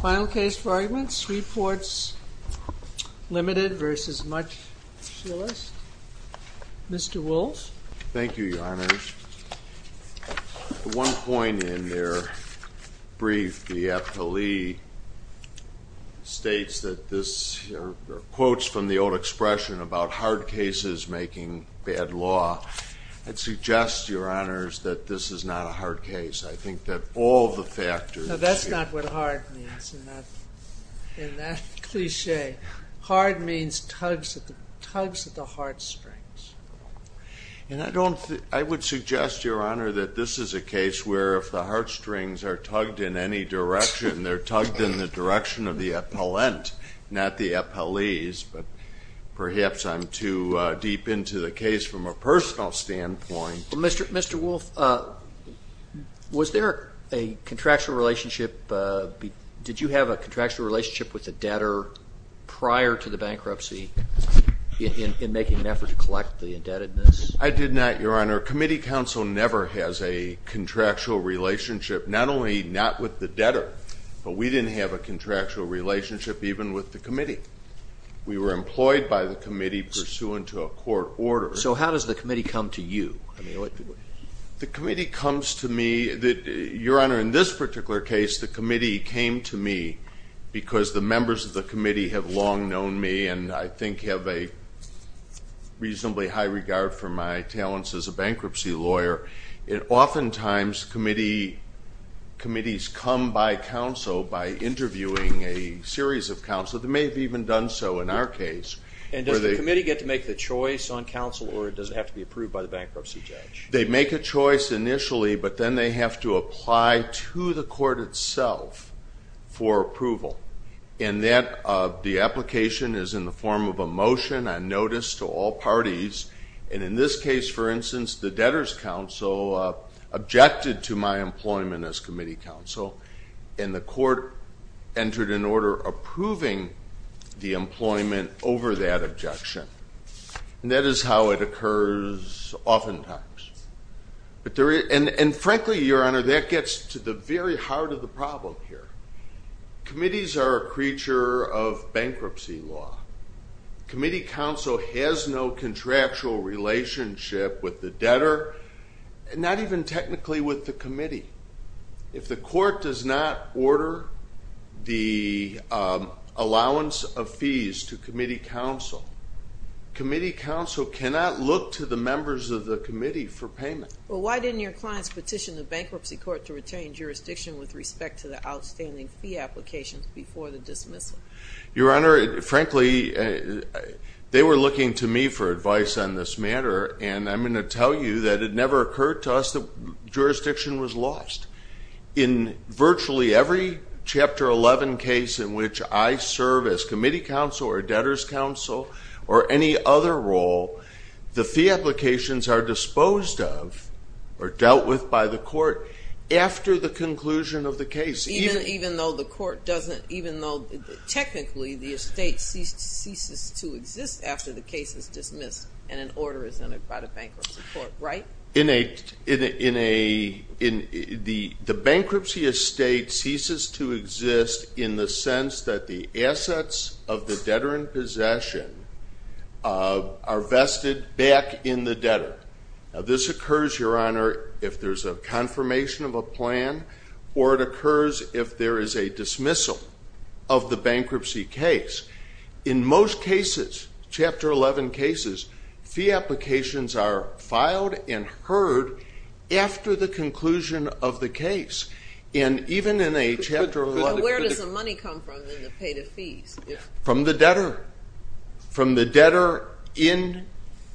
Final case for arguments, Sweports, Ltd. v. Much Shelist. Mr. Walsh. Thank you, Your Honors. At one point in their brief, the affilee states that this, quotes from the old expression about hard cases making bad law, I'd suggest, Your Honors, that this is not a hard case. I think that all the factors... No, that's not what hard means in that cliché. Hard means tugs at the heartstrings. And I would suggest, Your Honor, that this is a case where if the heartstrings are tugged in any direction, they're tugged in the direction of the appellant, not the appellees, but perhaps I'm too deep into the case from a personal standpoint. Mr. Wolf, was there a contractual relationship? Did you have a contractual relationship with the debtor prior to the bankruptcy in making an effort to collect the indebtedness? I did not, Your Honor. Committee counsel never has a contractual relationship, not only not with the debtor, but we didn't have a contractual relationship even with the committee. We were employed by the committee pursuant to a court order. So how does the committee come to you? The committee comes to me... Your Honor, in this particular case, the committee came to me because the members of the committee have long known me and I think have a reasonably high regard for my talents as a bankruptcy lawyer. Oftentimes, committees come by counsel by interviewing a series of counsel. They may have even done so in our case. And does the committee get to make the choice on counsel or does it have to be approved by the bankruptcy judge? They make a choice initially, but then they have to apply to the court itself for approval. And the application is in the form of a motion on notice to all parties. And in this case, for instance, the debtor's counsel objected to my employment as committee counsel and the court entered an order approving the employment over that objection. And that is how it occurs oftentimes. And frankly, Your Honor, that gets to the very heart of the problem here. Committees are a creature of bankruptcy law. Committee counsel has no contractual relationship with the debtor, not even technically with the committee. If the court does not order the allowance of fees to committee counsel, committee counsel cannot look to the members of the committee for payment. Well, why didn't your clients petition the bankruptcy court to retain jurisdiction with respect to the outstanding fee applications before the dismissal? Your Honor, frankly, they were looking to me for advice on this matter, and I'm going to tell you that it never occurred to us that jurisdiction was lost. In virtually every Chapter 11 case in which I serve as committee counsel or debtor's counsel or any other role, the fee applications are disposed of or dealt with by the court after the conclusion of the case. Even though the court doesn't, even though technically the estate ceases to exist after the case is dismissed and an order is entered by the bankruptcy court, right? The bankruptcy estate ceases to exist in the sense that the assets of the debtor in possession are vested back in the debtor. Now, this occurs, Your Honor, if there's a confirmation of a plan or it occurs if there is a dismissal of the bankruptcy case. In most cases, Chapter 11 cases, fee applications are filed and heard after the conclusion of the case. And even in a Chapter 11 case. Where does the money come from in the pay to fees? From the debtor. From the debtor in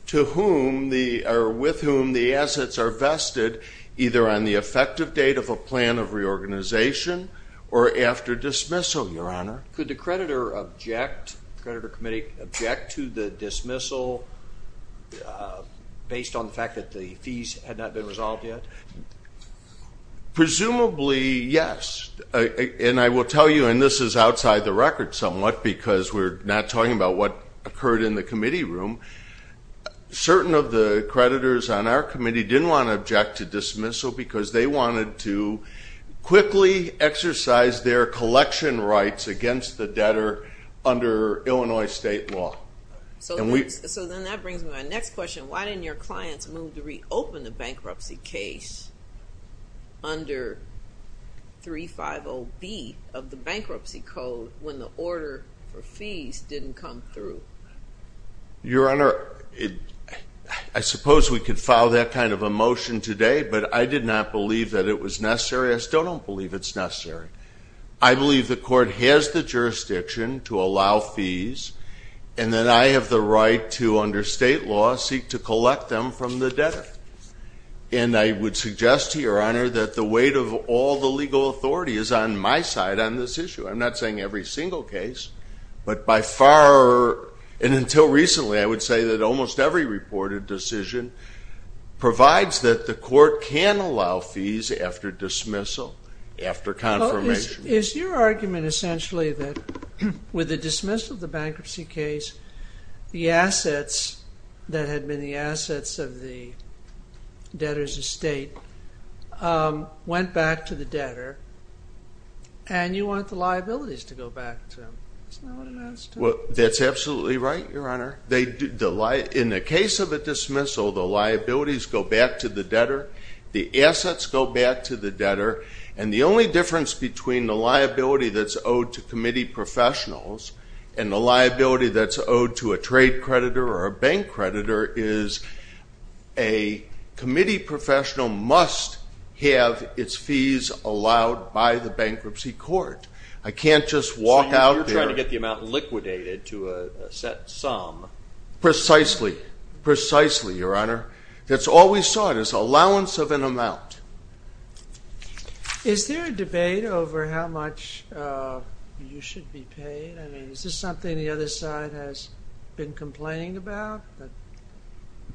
to whom the, or with whom the assets are vested, either on the effective date of a plan of reorganization or after dismissal, Your Honor. Could the creditor object, creditor committee object to the dismissal based on the fact that the fees had not been resolved yet? Presumably, yes. And I will tell you, and this is outside the record somewhat because we're not talking about what occurred in the committee room. Certain of the creditors on our committee didn't want to object to dismissal because they wanted to quickly exercise their collection rights against the debtor under Illinois state law. So then that brings me to my next question. Why didn't your clients move to reopen the bankruptcy case under 350B of the Bankruptcy Code when the order for fees didn't come through? Your Honor, I suppose we could file that kind of a motion today, but I did not believe that it was necessary. I still don't believe it's necessary. I believe the court has the jurisdiction to allow fees, and that I have the right to, under state law, seek to collect them from the debtor. And I would suggest to Your Honor that the weight of all the legal authority is on my side on this issue. I'm not saying every single case, but by far, and until recently, I would say that almost every reported decision provides that the court can allow fees after dismissal, after confirmation. Is your argument essentially that with the dismissal of the bankruptcy case, the assets that had been the assets of the debtor's estate went back to the debtor, and you want the liabilities to go back to them? In the case of a dismissal, the liabilities go back to the debtor, the assets go back to the debtor, and the only difference between the liability that's owed to committee professionals and the liability that's owed to a trade creditor or a bank creditor is a committee professional must have its fees allowed by the bankruptcy court. So you're trying to get the amount liquidated to a set sum. Precisely. Precisely, Your Honor. That's all we sought, is allowance of an amount. Is there a debate over how much you should be paid? I mean, is this something the other side has been complaining about?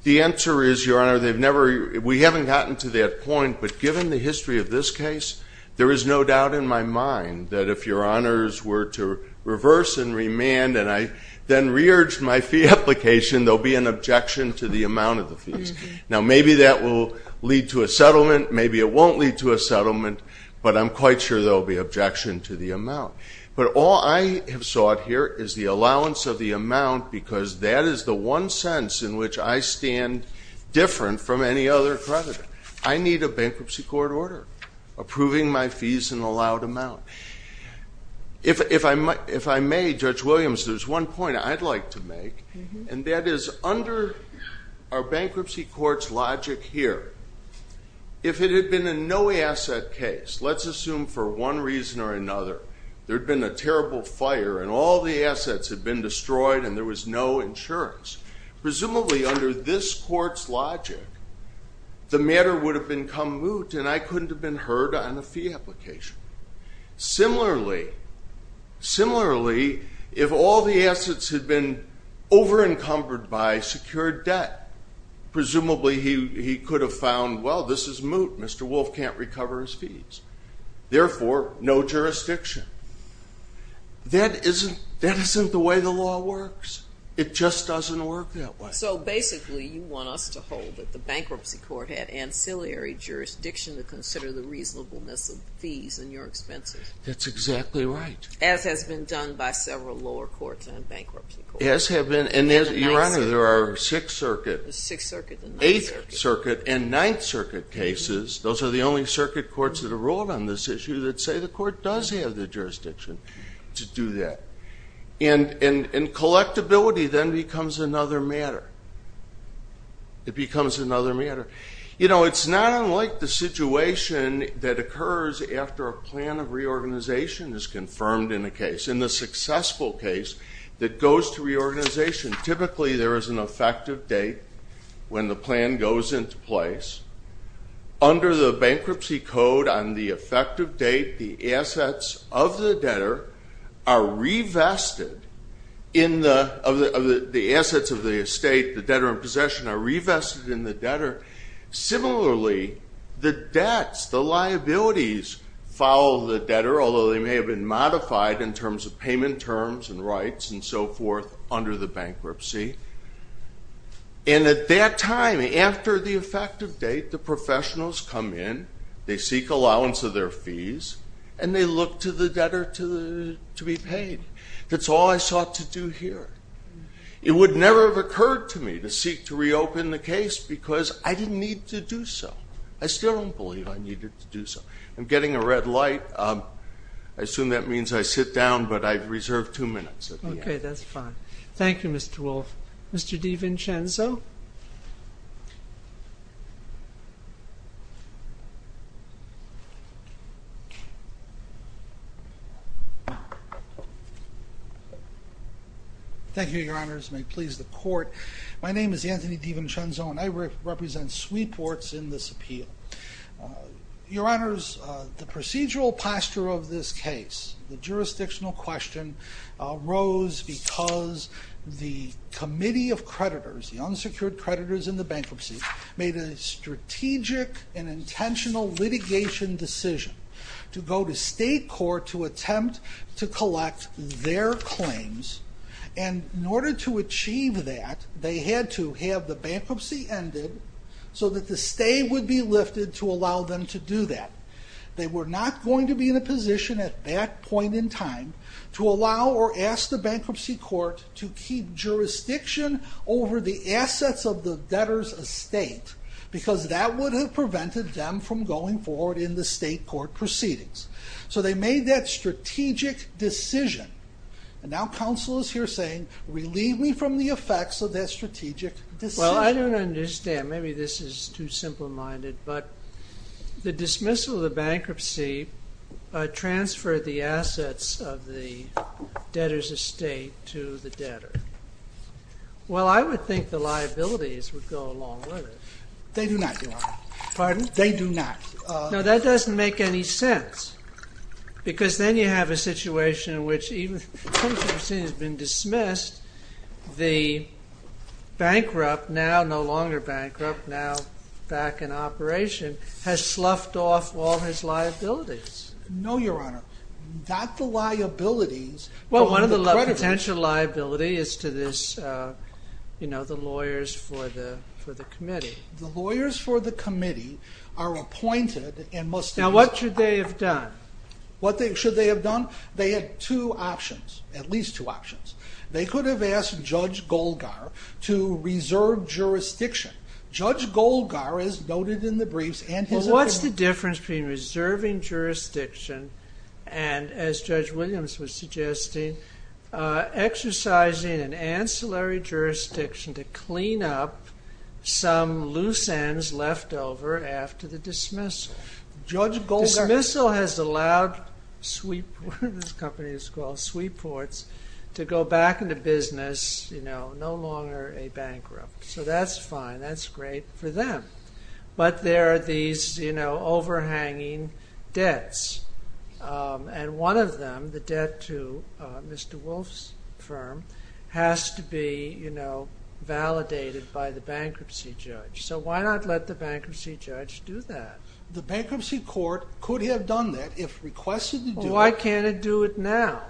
The answer is, Your Honor, we haven't gotten to that point, but given the history of this case, there is no doubt in my mind that if Your Honors were to reverse and remand and I then re-urge my fee application, there will be an objection to the amount of the fees. Now, maybe that will lead to a settlement, maybe it won't lead to a settlement, but I'm quite sure there will be objection to the amount. But all I have sought here is the allowance of the amount, because that is the one sense in which I stand different from any other creditor. I need a bankruptcy court order approving my fees in allowed amount. If I may, Judge Williams, there's one point I'd like to make, and that is under our bankruptcy court's logic here, if it had been a no-asset case, let's assume for one reason or another there had been a terrible fire and all the assets had been destroyed and there was no insurance, presumably under this court's logic, the matter would have become moot and I couldn't have been heard on a fee application. Similarly, if all the assets had been over-encumbered by secured debt, presumably he could have found, well, this is moot, Mr. Wolf can't recover his fees. Therefore, no jurisdiction. That isn't the way the law works. It just doesn't work that way. So basically you want us to hold that the bankruptcy court had ancillary jurisdiction to consider the reasonableness of fees and your expenses. That's exactly right. As has been done by several lower courts and bankruptcy courts. As have been, and Your Honor, there are Sixth Circuit, Eighth Circuit, and Ninth Circuit cases, those are the only circuit courts that have ruled on this issue that say the court does have the jurisdiction to do that. And collectability then becomes another matter. It becomes another matter. You know, it's not unlike the situation that occurs after a plan of reorganization is confirmed in a case, in the successful case that goes to reorganization. Typically there is an effective date when the plan goes into place. Under the bankruptcy code on the effective date, the assets of the debtor are revested. The assets of the estate, the debtor in possession are revested in the debtor. Similarly, the debts, the liabilities follow the debtor, although they may have been modified in terms of payment terms and rights and so forth under the bankruptcy. And at that time, after the effective date, the professionals come in, they seek allowance of their fees, and they look to the debtor to be paid. That's all I sought to do here. It would never have occurred to me to seek to reopen the case because I didn't need to do so. I still don't believe I needed to do so. I'm getting a red light. I assume that means I sit down, but I've reserved two minutes. Okay, that's fine. Thank you, Mr. Wolfe. Mr. DiVincenzo? Thank you, Your Honors. May it please the Court. My name is Anthony DiVincenzo, and I represent Sweetports in this appeal. Your Honors, the procedural posture of this case, the jurisdictional question arose because the committee of creditors, the unsecured creditors in the bankruptcy, made a strategic and intentional litigation decision to go to state court to attempt to collect their claims. And in order to achieve that, they had to have the bankruptcy ended so that the stay would be lifted to allow them to do that. They were not going to be in a position at that point in time to allow or ask the bankruptcy court to keep jurisdiction over the assets of the debtor's estate because that would have prevented them from going forward in the state court proceedings. So they made that strategic decision. And now counsel is here saying, relieve me from the effects of that strategic decision. Well, I don't understand. Maybe this is too simple-minded. But the dismissal of the bankruptcy transferred the assets of the debtor's estate to the debtor. Well, I would think the liabilities would go along with it. They do not, Your Honor. Pardon? They do not. No, that doesn't make any sense because then you have a situation in which even if the bankruptcy has been dismissed, the bankrupt, now no longer bankrupt, now back in operation, has sloughed off all his liabilities. No, Your Honor. Not the liabilities. Well, one of the potential liabilities is to this, you know, the lawyers for the committee. The lawyers for the committee are appointed and must... Now, what should they have done? What should they have done? They had two options, at least two options. They could have asked Judge Golgar to reserve jurisdiction. Judge Golgar is noted in the briefs and his opinion. Well, what's the difference between reserving jurisdiction and, as Judge Williams was suggesting, exercising an ancillary jurisdiction to clean up some loose ends left over after the dismissal? Judge Golgar... you know, no longer a bankrupt. So that's fine. That's great for them. But there are these, you know, overhanging debts. And one of them, the debt to Mr. Wolf's firm, has to be, you know, validated by the bankruptcy judge. So why not let the bankruptcy judge do that? The bankruptcy court could have done that if requested to do it. Well, why can't it do it now?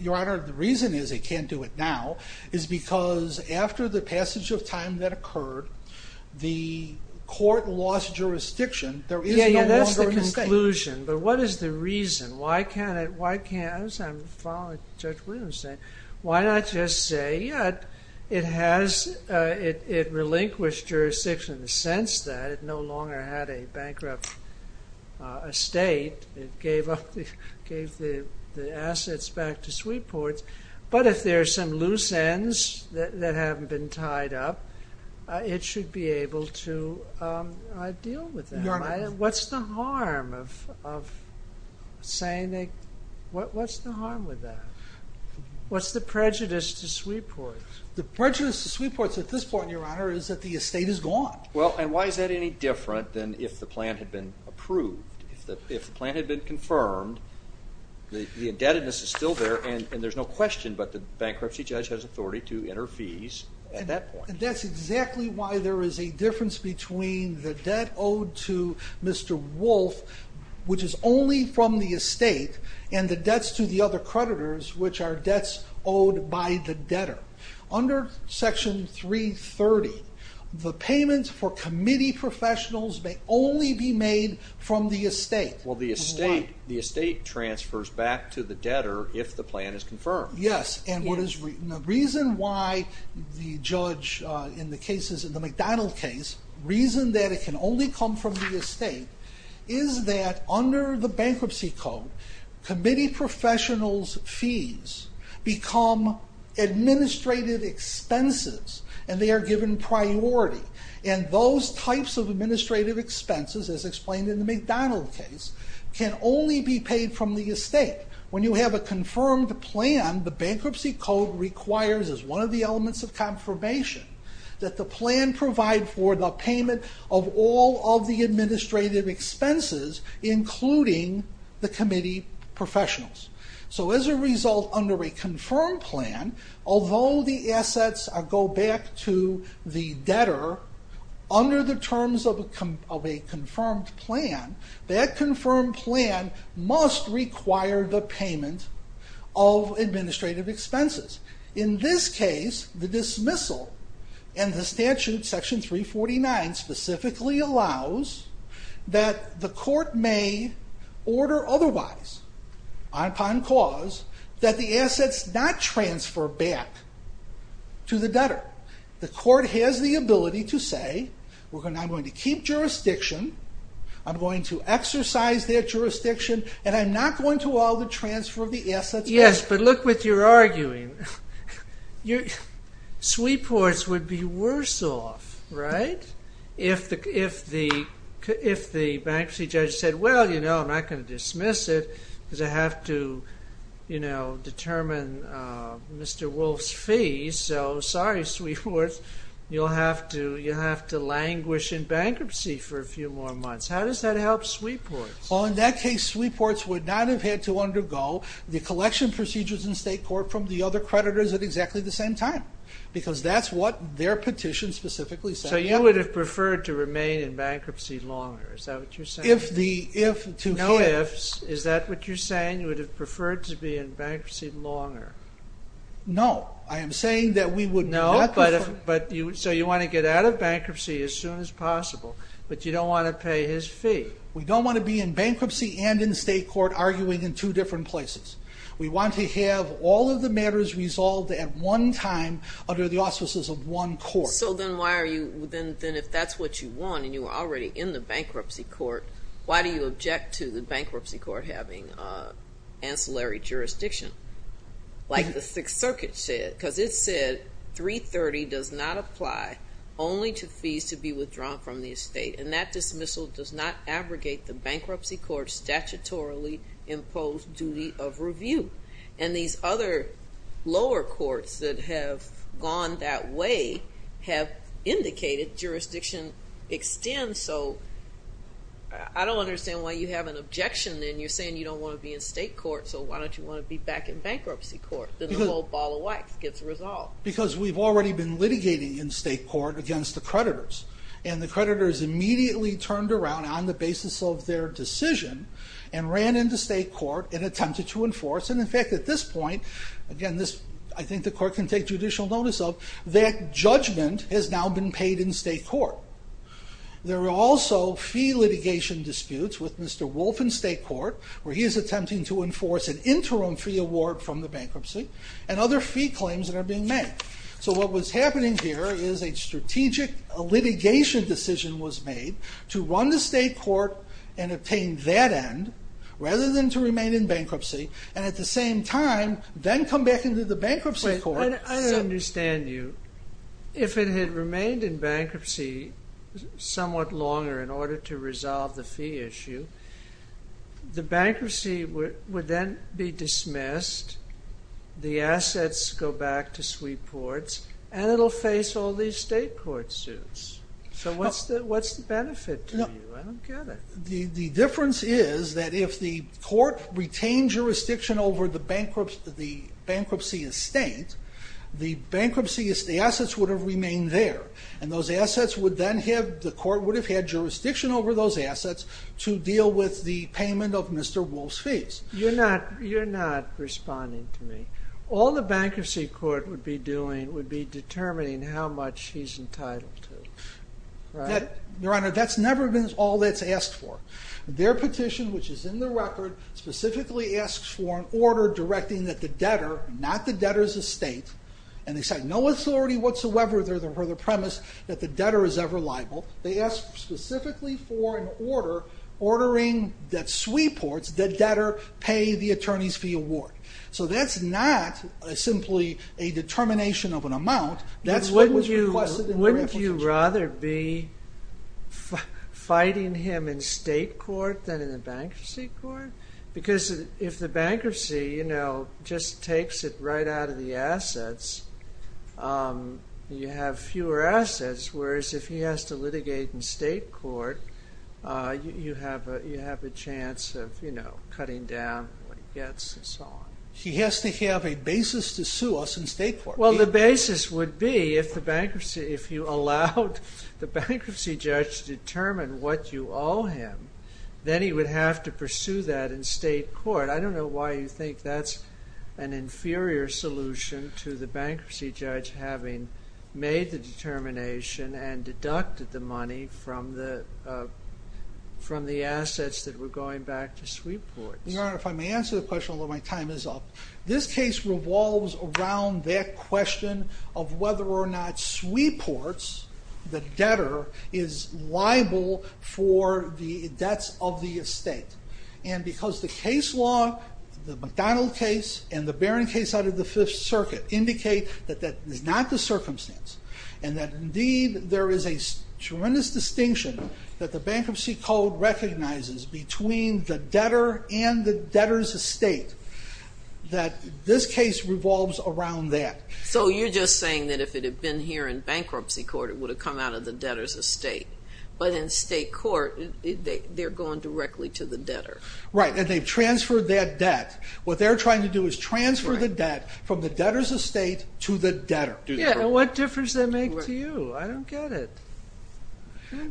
Your Honor, the reason is it can't do it now is because after the passage of time that occurred, the court lost jurisdiction. Yeah, yeah, that's the conclusion. But what is the reason? Why can't it... I'm following what Judge Williams is saying. Why not just say, yeah, it relinquished jurisdiction in the sense that it no longer had a bankrupt estate. It gave the assets back to Sweetports. But if there are some loose ends that haven't been tied up, it should be able to deal with that. Your Honor... What's the harm of saying they... What's the harm with that? What's the prejudice to Sweetports? The prejudice to Sweetports at this point, Your Honor, is that the estate is gone. Well, and why is that any different than if the plan had been approved? If the plan had been confirmed, the indebtedness is still there, and there's no question, but the bankruptcy judge has authority to enter fees at that point. That's exactly why there is a difference between the debt owed to Mr. Wolf, which is only from the estate, and the debts to the other creditors, which are debts owed by the debtor. Under Section 330, the payments for committee professionals may only be made from the estate. Well, the estate transfers back to the debtor if the plan is confirmed. Yes, and the reason why the judge in the McDonald case, the reason that it can only come from the estate, is that under the Bankruptcy Code, committee professionals' fees become administrative expenses, and they are given priority. And those types of administrative expenses, as explained in the McDonald case, can only be paid from the estate. When you have a confirmed plan, the Bankruptcy Code requires as one of the elements of confirmation that the plan provide for the payment of all of the administrative expenses, including the committee professionals. So as a result, under a confirmed plan, although the assets go back to the debtor, under the terms of a confirmed plan, that confirmed plan must require the payment of administrative expenses. In this case, the dismissal and the statute, Section 349, specifically allows that the court may order otherwise, on cause, that the assets not transfer back to the debtor. The court has the ability to say, I'm going to keep jurisdiction, I'm going to exercise their jurisdiction, and I'm not going to allow the transfer of the assets back. Yes, but look what you're arguing. Sweep courts would be worse off, right? If the bankruptcy judge said, Well, you know, I'm not going to dismiss it, because I have to determine Mr. Wolf's fees, so sorry, sweep courts, you'll have to languish in bankruptcy for a few more months. How does that help sweep courts? In that case, sweep courts would not have had to undergo the collection procedures in state court from the other creditors at exactly the same time, because that's what their petition specifically said. So you would have preferred to remain in bankruptcy longer, is that what you're saying? No ifs, is that what you're saying? You would have preferred to be in bankruptcy longer. No, I am saying that we would not prefer... So you want to get out of bankruptcy as soon as possible, but you don't want to pay his fee. We don't want to be in bankruptcy and in state court arguing in two different places. We want to have all of the matters resolved at one time under the auspices of one court. So then if that's what you want, and you were already in the bankruptcy court, why do you object to the bankruptcy court having ancillary jurisdiction, like the Sixth Circuit said? Because it said 330 does not apply only to fees to be withdrawn from the estate, and that dismissal does not abrogate the bankruptcy court's statutorily imposed duty of review. And these other lower courts that have gone that way have indicated jurisdiction extends, so I don't understand why you have an objection and you're saying you don't want to be in state court, so why don't you want to be back in bankruptcy court? Then the whole ball of wax gets resolved. Because we've already been litigating in state court against the creditors, and the creditors immediately turned around on the basis of their decision and ran into state court and attempted to enforce, and in fact at this point, again I think the court can take judicial notice of, that judgment has now been paid in state court. There are also fee litigation disputes with Mr. Wolf in state court, where he is attempting to enforce an interim fee award from the bankruptcy, and other fee claims that are being made. So what was happening here is a strategic litigation decision was made to run the state court and obtain that end, rather than to remain in bankruptcy, and at the same time, then come back into the bankruptcy court. I don't understand you. If it had remained in bankruptcy somewhat longer in order to resolve the fee issue, the bankruptcy would then be dismissed, the assets go back to suite courts, and it will face all these state court suits. So what's the benefit to you? I don't get it. The difference is that if the court retained jurisdiction over the bankruptcy estate, the assets would have remained there, and those assets would then have, the court would have had jurisdiction over those assets to deal with the payment of Mr. Wolf's fees. You're not responding to me. All the bankruptcy court would be doing would be determining how much he's entitled to. Your Honor, that's never been all that's asked for. Their petition, which is in the record, specifically asks for an order directing that the debtor, not the debtor's estate, and they cite no authority whatsoever for the premise that the debtor is ever liable. They ask specifically for an order ordering that suite courts, the debtor, pay the attorney's fee award. So that's not simply a determination of an amount. That's what was requested in the application. Wouldn't you rather be fighting him in state court than in the bankruptcy court? Because if the bankruptcy, you know, just takes it right out of the assets, you have fewer assets, whereas if he has to litigate in state court, you have a chance of, you know, cutting down what he gets and so on. He has to have a basis to sue us in state court. Well, the basis would be if the bankruptcy, if you allowed the bankruptcy judge to determine what you owe him, then he would have to pursue that in state court. I don't know why you think that's an inferior solution to the bankruptcy judge having made the determination and deducted the money from the assets that were going back to suite courts. Your Honor, if I may answer the question, although my time is up. This case revolves around that question of whether or not suite courts, the debtor, is liable for the debts of the estate. And because the case law, the McDonald case, and the Barron case out of the Fifth Circuit indicate that that is not the circumstance, and that indeed there is a tremendous distinction that the bankruptcy code recognizes between the debtor and the debtor's estate, that this case revolves around that. So you're just saying that if it had been here in bankruptcy court, it would have come out of the debtor's estate. But in state court, they're going directly to the debtor. Right, and they've transferred that debt. What they're trying to do is transfer the debt from the debtor's estate to the debtor. Yeah, and what difference does that make to you? I don't get it.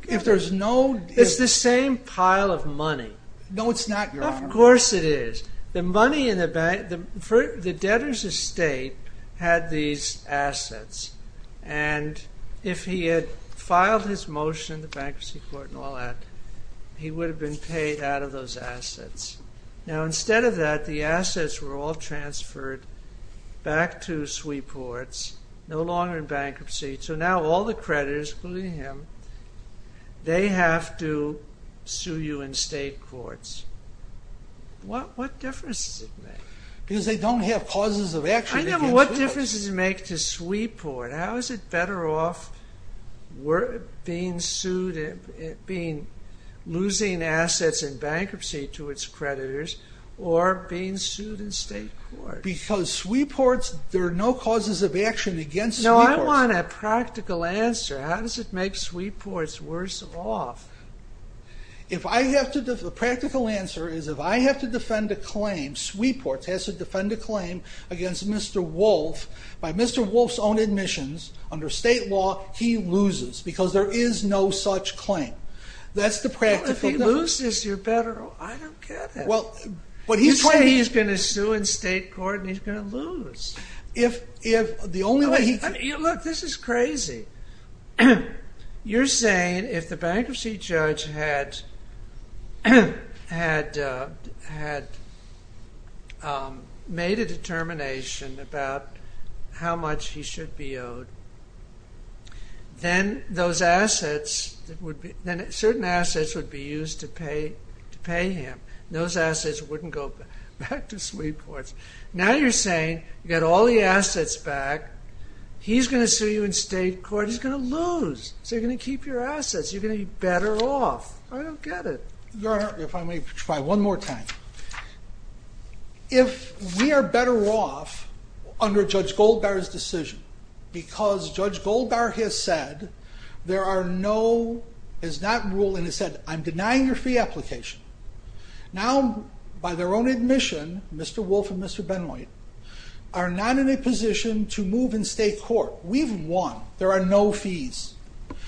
If there's no... It's the same pile of money. No, it's not, Your Honor. Of course it is. The money in the bank... The debtor's estate had these assets, and if he had filed his motion in the bankruptcy court and all that, he would have been paid out of those assets. Now, instead of that, the assets were all transferred back to sweep courts, no longer in bankruptcy. So now all the creditors, including him, they have to sue you in state courts. What difference does it make? Because they don't have pauses of action... I know, but what difference does it make to sweep court? How is it better off losing assets in bankruptcy to its creditors or being sued in state courts? Because sweep courts, there are no causes of action against sweep courts. No, I want a practical answer. How does it make sweep courts worse off? If I have to... The practical answer is if I have to defend a claim, against Mr. Wolf, by Mr. Wolf's own admissions, under state law, he loses, because there is no such claim. That's the practical... Well, if he loses, you're better off. I don't get it. Well, but he's... You say he's going to sue in state court, and he's going to lose. If the only way he... Look, this is crazy. You're saying if the bankruptcy judge had made a determination about how much he should be owed, then those assets, then certain assets would be used to pay him. Those assets wouldn't go back to sweep courts. Now you're saying, you got all the assets back, he's going to sue you in state court, he's going to lose. So you're going to keep your assets. You're going to be better off. I don't get it. Your Honor, if I may try one more time. If we are better off under Judge Goldbar's decision, because Judge Goldbar has said there are no... Is that rule, and he said, I'm denying your fee application. Now, by their own admission, Mr. Wolf and Mr. Benoit, are not in a position to move in state court. We've won. There are no fees.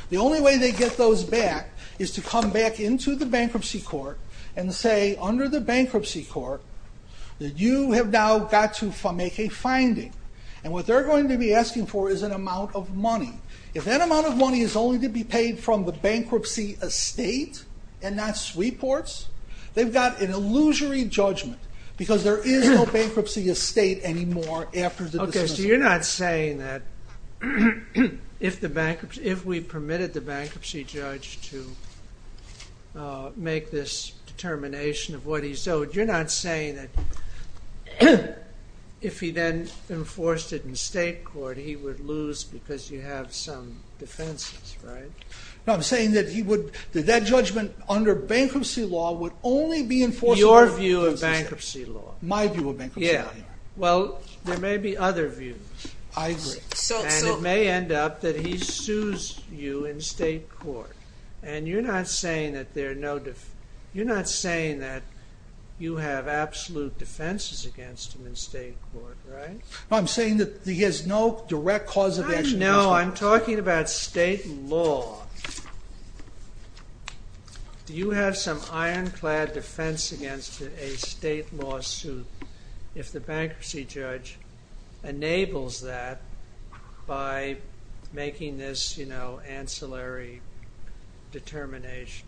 The only way they get those back is to come back into the bankruptcy court and say under the bankruptcy court that you have now got to make a finding. And what they're going to be asking for is an amount of money. If that amount of money is only to be paid from the bankruptcy estate and not sweep courts, they've got an illusory judgment because there is no bankruptcy estate anymore after the dismissal. Okay, so you're not saying that if we permitted the bankruptcy judge to make this determination of what he's owed, you're not saying that if he then enforced it in state court, he would lose because you have some defenses, right? No, I'm saying that that judgment under bankruptcy law would only be enforced... That's your view of bankruptcy law. My view of bankruptcy law. Yeah. Well, there may be other views. I agree. And it may end up that he sues you in state court. And you're not saying that there are no... You're not saying that you have absolute defenses against him in state court, right? No, I'm saying that he has no direct cause of action... I know. I'm talking about state law. Do you have some ironclad defense against a state lawsuit if the bankruptcy judge enables that by making this, you know, ancillary determination?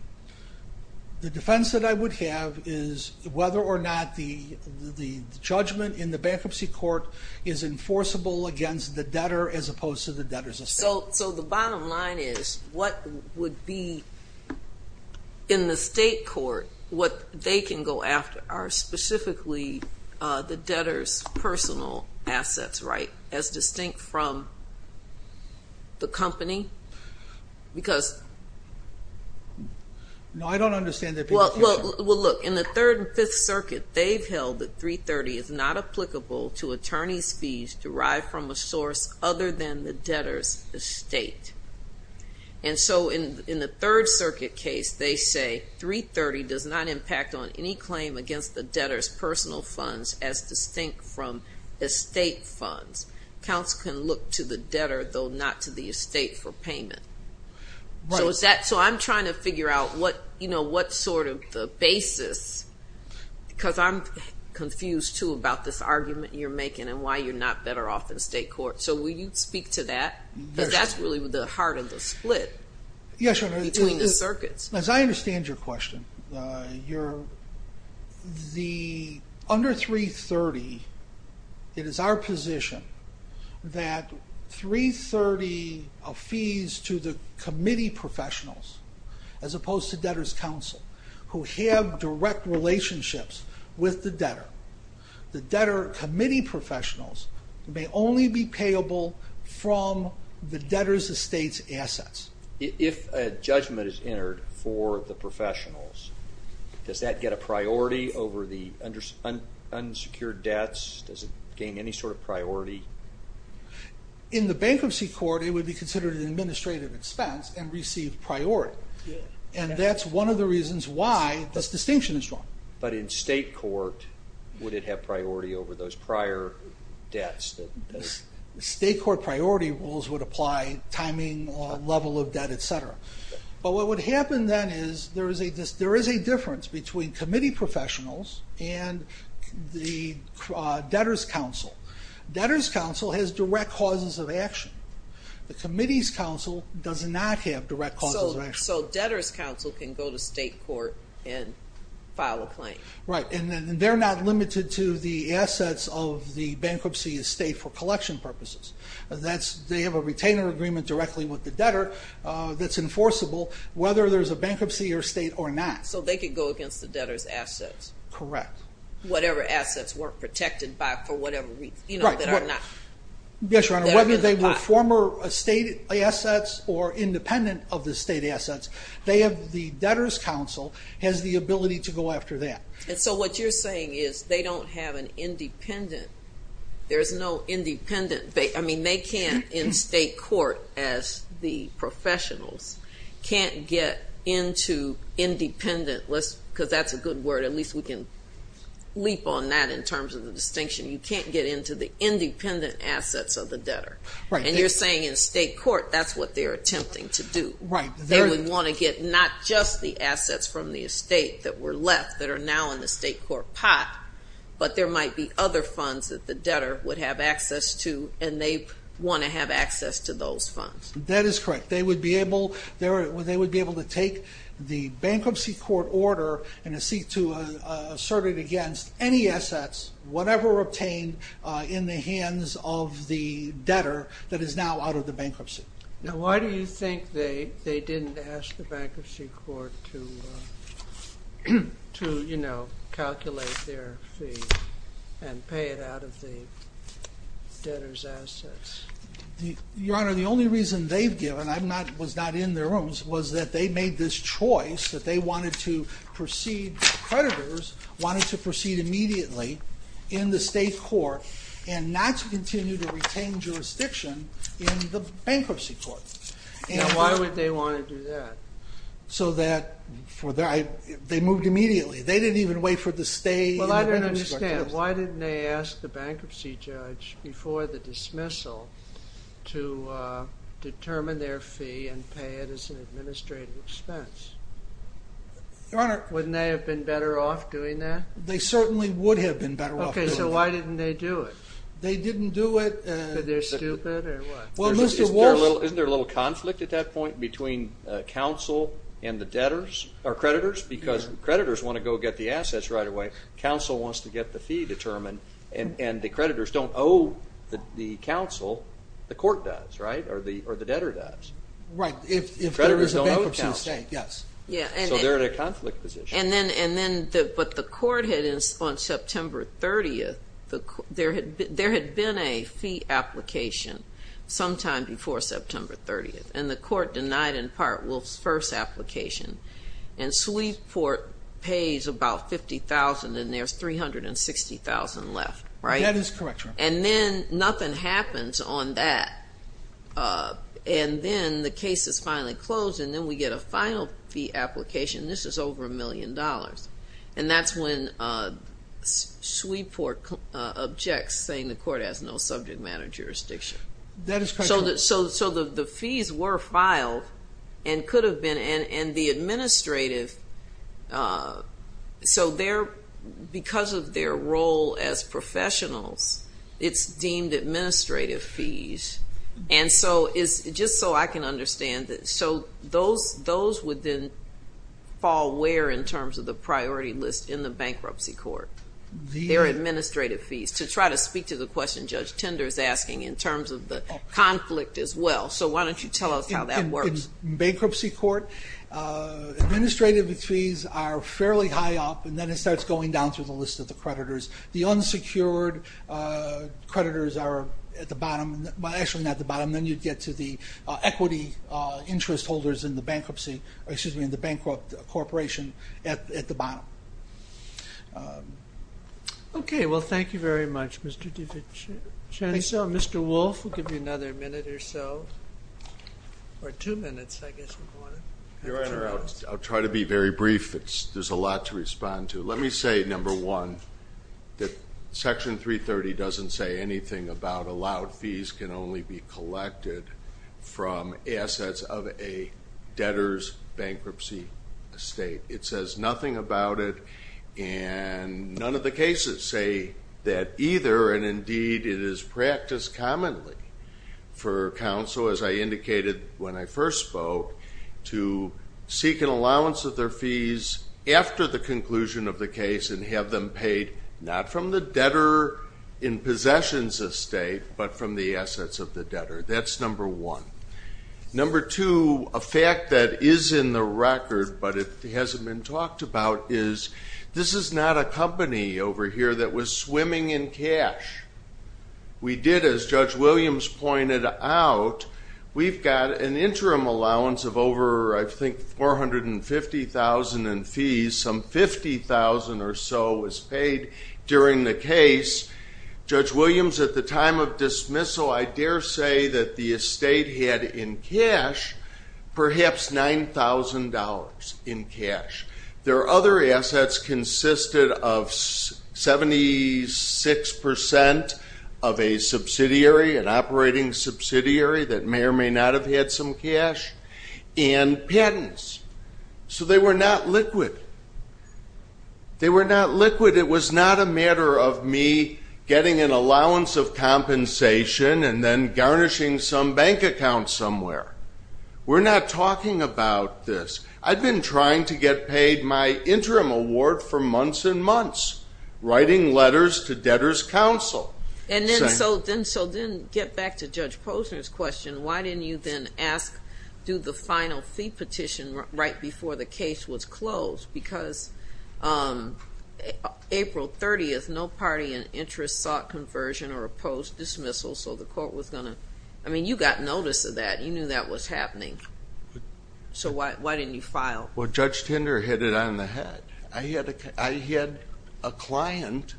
The defense that I would have is whether or not the judgment in the bankruptcy court as opposed to the debtor's estate. So the bottom line is, what would be, in the state court, what they can go after are specifically the debtor's personal assets, right? As distinct from the company? Because... No, I don't understand that... Well, look, in the Third and Fifth Circuit, they've held that 330 is not applicable to attorney's fees derived from a source other than the debtor's estate. And so in the Third Circuit case, they say 330 does not impact on any claim against the debtor's personal funds as distinct from estate funds. Accounts can look to the debtor, though not to the estate, for payment. So I'm trying to figure out Because I'm confused, too, about this argument you're making and why you're not better off in state court. So will you speak to that? Because that's really the heart of the split between the circuits. As I understand your question, under 330, it is our position that 330 of fees to the committee professionals as opposed to debtor's counsel who have direct relationships with the debtor, the debtor committee professionals may only be payable from the debtor's estate's assets. If a judgment is entered for the professionals, does that get a priority over the unsecured debts? Does it gain any sort of priority? In the bankruptcy court, it would be considered an administrative expense and receive priority. And that's one of the reasons why this distinction is drawn. But in state court, would it have priority over those prior debts? State court priority rules would apply timing, level of debt, etc. But what would happen then is there is a difference between committee professionals and the debtor's counsel. Debtor's counsel has direct causes of action. The committee's counsel does not have direct causes of action. So debtor's counsel can go to state court and file a claim. Right, and they're not limited to the assets of the bankruptcy estate for collection purposes. They have a retainer agreement directly with the debtor that's enforceable whether there's a bankruptcy estate or not. So they can go against the debtor's assets. Correct. Whatever assets weren't protected for whatever reason. Whether they were former estate assets or independent of the state assets, the debtor's counsel has the ability to go after that. And so what you're saying is they don't have an independent there's no independent they can't in state court as the professionals can't get into independent because that's a good word, at least we can leap on that in terms of the distinction you can't get into the independent assets of the debtor. And you're saying in state court that's what they're attempting to do. They would want to get not just the assets from the estate that were left that are now in the state court pot but there might be other funds that the debtor would have access to and they want to have access to those funds. That is correct. They would be able to take the bankruptcy court order and seek to assert it against any assets whatever obtained in the hands of the debtor that is now out of the bankruptcy. Now why do you think they didn't ask the bankruptcy court to calculate their fee and pay it out of the debtor's assets? Your Honor, the only reason they've given I was not in their rooms, was that they made this choice that they wanted to proceed, the creditors wanted to proceed immediately in the state court and not to continue to retain jurisdiction in the bankruptcy court. Why would they want to do that? So that, they moved immediately. They didn't even wait for the stay in the bankruptcy court test. Why didn't they ask the bankruptcy judge before the dismissal to determine their fee and pay it as an administrative expense? Wouldn't they have been better off doing that? They certainly would have been better off doing that. Okay, so why didn't they do it? They didn't do it because they're stupid or what? Isn't there a little conflict at that point between counsel and the debtors, or creditors, because creditors want to go get the assets right away, counsel wants to get the fee determined, and the creditors don't owe the counsel, the court does, right? Or the debtor does. Right, if there is a bankruptcy state, yes. So they're in a conflict position. And then what the court had on September 30th, there had been a fee application sometime before September 30th, and the court denied in part Wolf's first application. And Sweetport pays about $50,000 and there's $360,000 left, right? That is correct, Your Honor. And then nothing happens on that. And then the case is finally closed, and then we get a final fee application, and this is over a million dollars. And that's when Sweetport objects, saying the court has no subject matter jurisdiction. So the fees were filed, and could have been, and the administrative so they're, because of their role as professionals, it's deemed administrative fees. And so just so I can understand, so those would then all wear, in terms of the priority list in the bankruptcy court, their administrative fees, to try to speak to the question Judge Tender is asking, in terms of the conflict as well. So why don't you tell us how that works? In bankruptcy court, administrative fees are fairly high up, and then it starts going down through the list of the creditors. The unsecured creditors are at the bottom, well, actually not the bottom, then you get to the equity interest holders in the bankruptcy, excuse me, in the bankrupt corporation at the bottom. Okay, well, thank you very much, Mr. DeVitch. I saw Mr. Wolf will give you another minute or so, or two minutes, I guess you'd want to. Your Honor, I'll try to be very brief. There's a lot to respond to. Let me say, number one, that Section 330 doesn't say anything about allowed fees can only be collected from assets of a debtor's bankruptcy estate. It says nothing about it, and none of the cases say that either, and indeed it is practiced commonly for counsel, as I indicated when I first spoke, to seek an allowance of their fees after the conclusion of the case, and have them paid not from the debtor in possession's estate, but from the assets of the debtor. That's number one. Number two, a fact that is in the record, but it hasn't been talked about, is this is not a company over here that was swimming in cash. We did, as Judge Williams pointed out, we've got an interim allowance of over I think $450,000 in fees, some $50,000 or so was paid during the case. Judge Williams, at the time of dismissal, I dare say that the estate had in cash perhaps $9,000 in cash. Their other assets consisted of 76% of a subsidiary, an operating subsidiary that may or may not have had some cash, and patents. So they were not liquid. They were not liquid. It was not a matter of me getting an allowance of compensation and then garnishing some bank account somewhere. We're not talking about this. I've been trying to get paid my interim award for months and months, writing letters to debtors' council. And so then get back to Judge Posner's question. Why didn't you then ask do the final fee petition right before the case was closed? Because April 30th, no party in interest sought conversion or opposed dismissal, so the court was going to I mean, you got notice of that. You knew that was happening. So why didn't you file? Judge Tinder hit it on the head. I had a client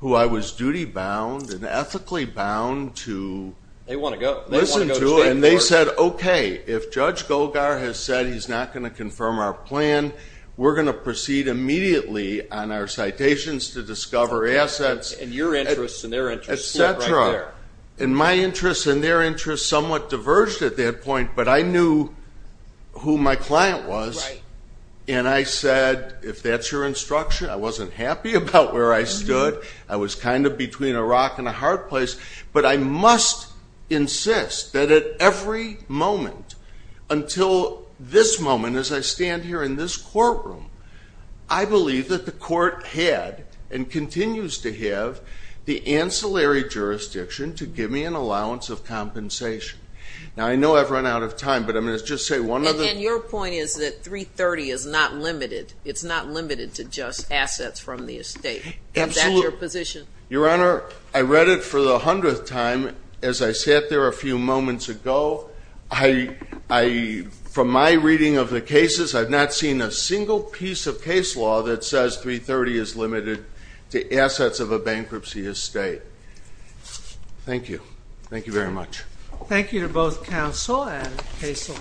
who I was duty-bound and ethically bound to listen to, and they said, okay, if Judge Golgar has said he's not going to confirm our plan, we're going to proceed immediately on our citations to discover assets, etc. And my interests and their interests somewhat diverged at that point, but I knew who my client was. And I said, if that's your instruction. I wasn't happy about where I stood. I was kind of between a rock and a hard place. But I must insist that at every moment until this moment, as I stand here in this courtroom, I believe that the court had, and continues to have, the ancillary jurisdiction to give me an allowance of compensation. Now, I know I've run out of time, but I'm going to just say one other And your point is that 330 is not limited. It's not limited to just assets from the estate. Absolutely. Is that your position? Your Honor, I read it for the hundredth time as I sat there a few moments ago. I from my reading of the piece of case law that says 330 is limited to assets of a bankruptcy estate. Thank you. Thank you very much. Thank you to both counsel and Casel.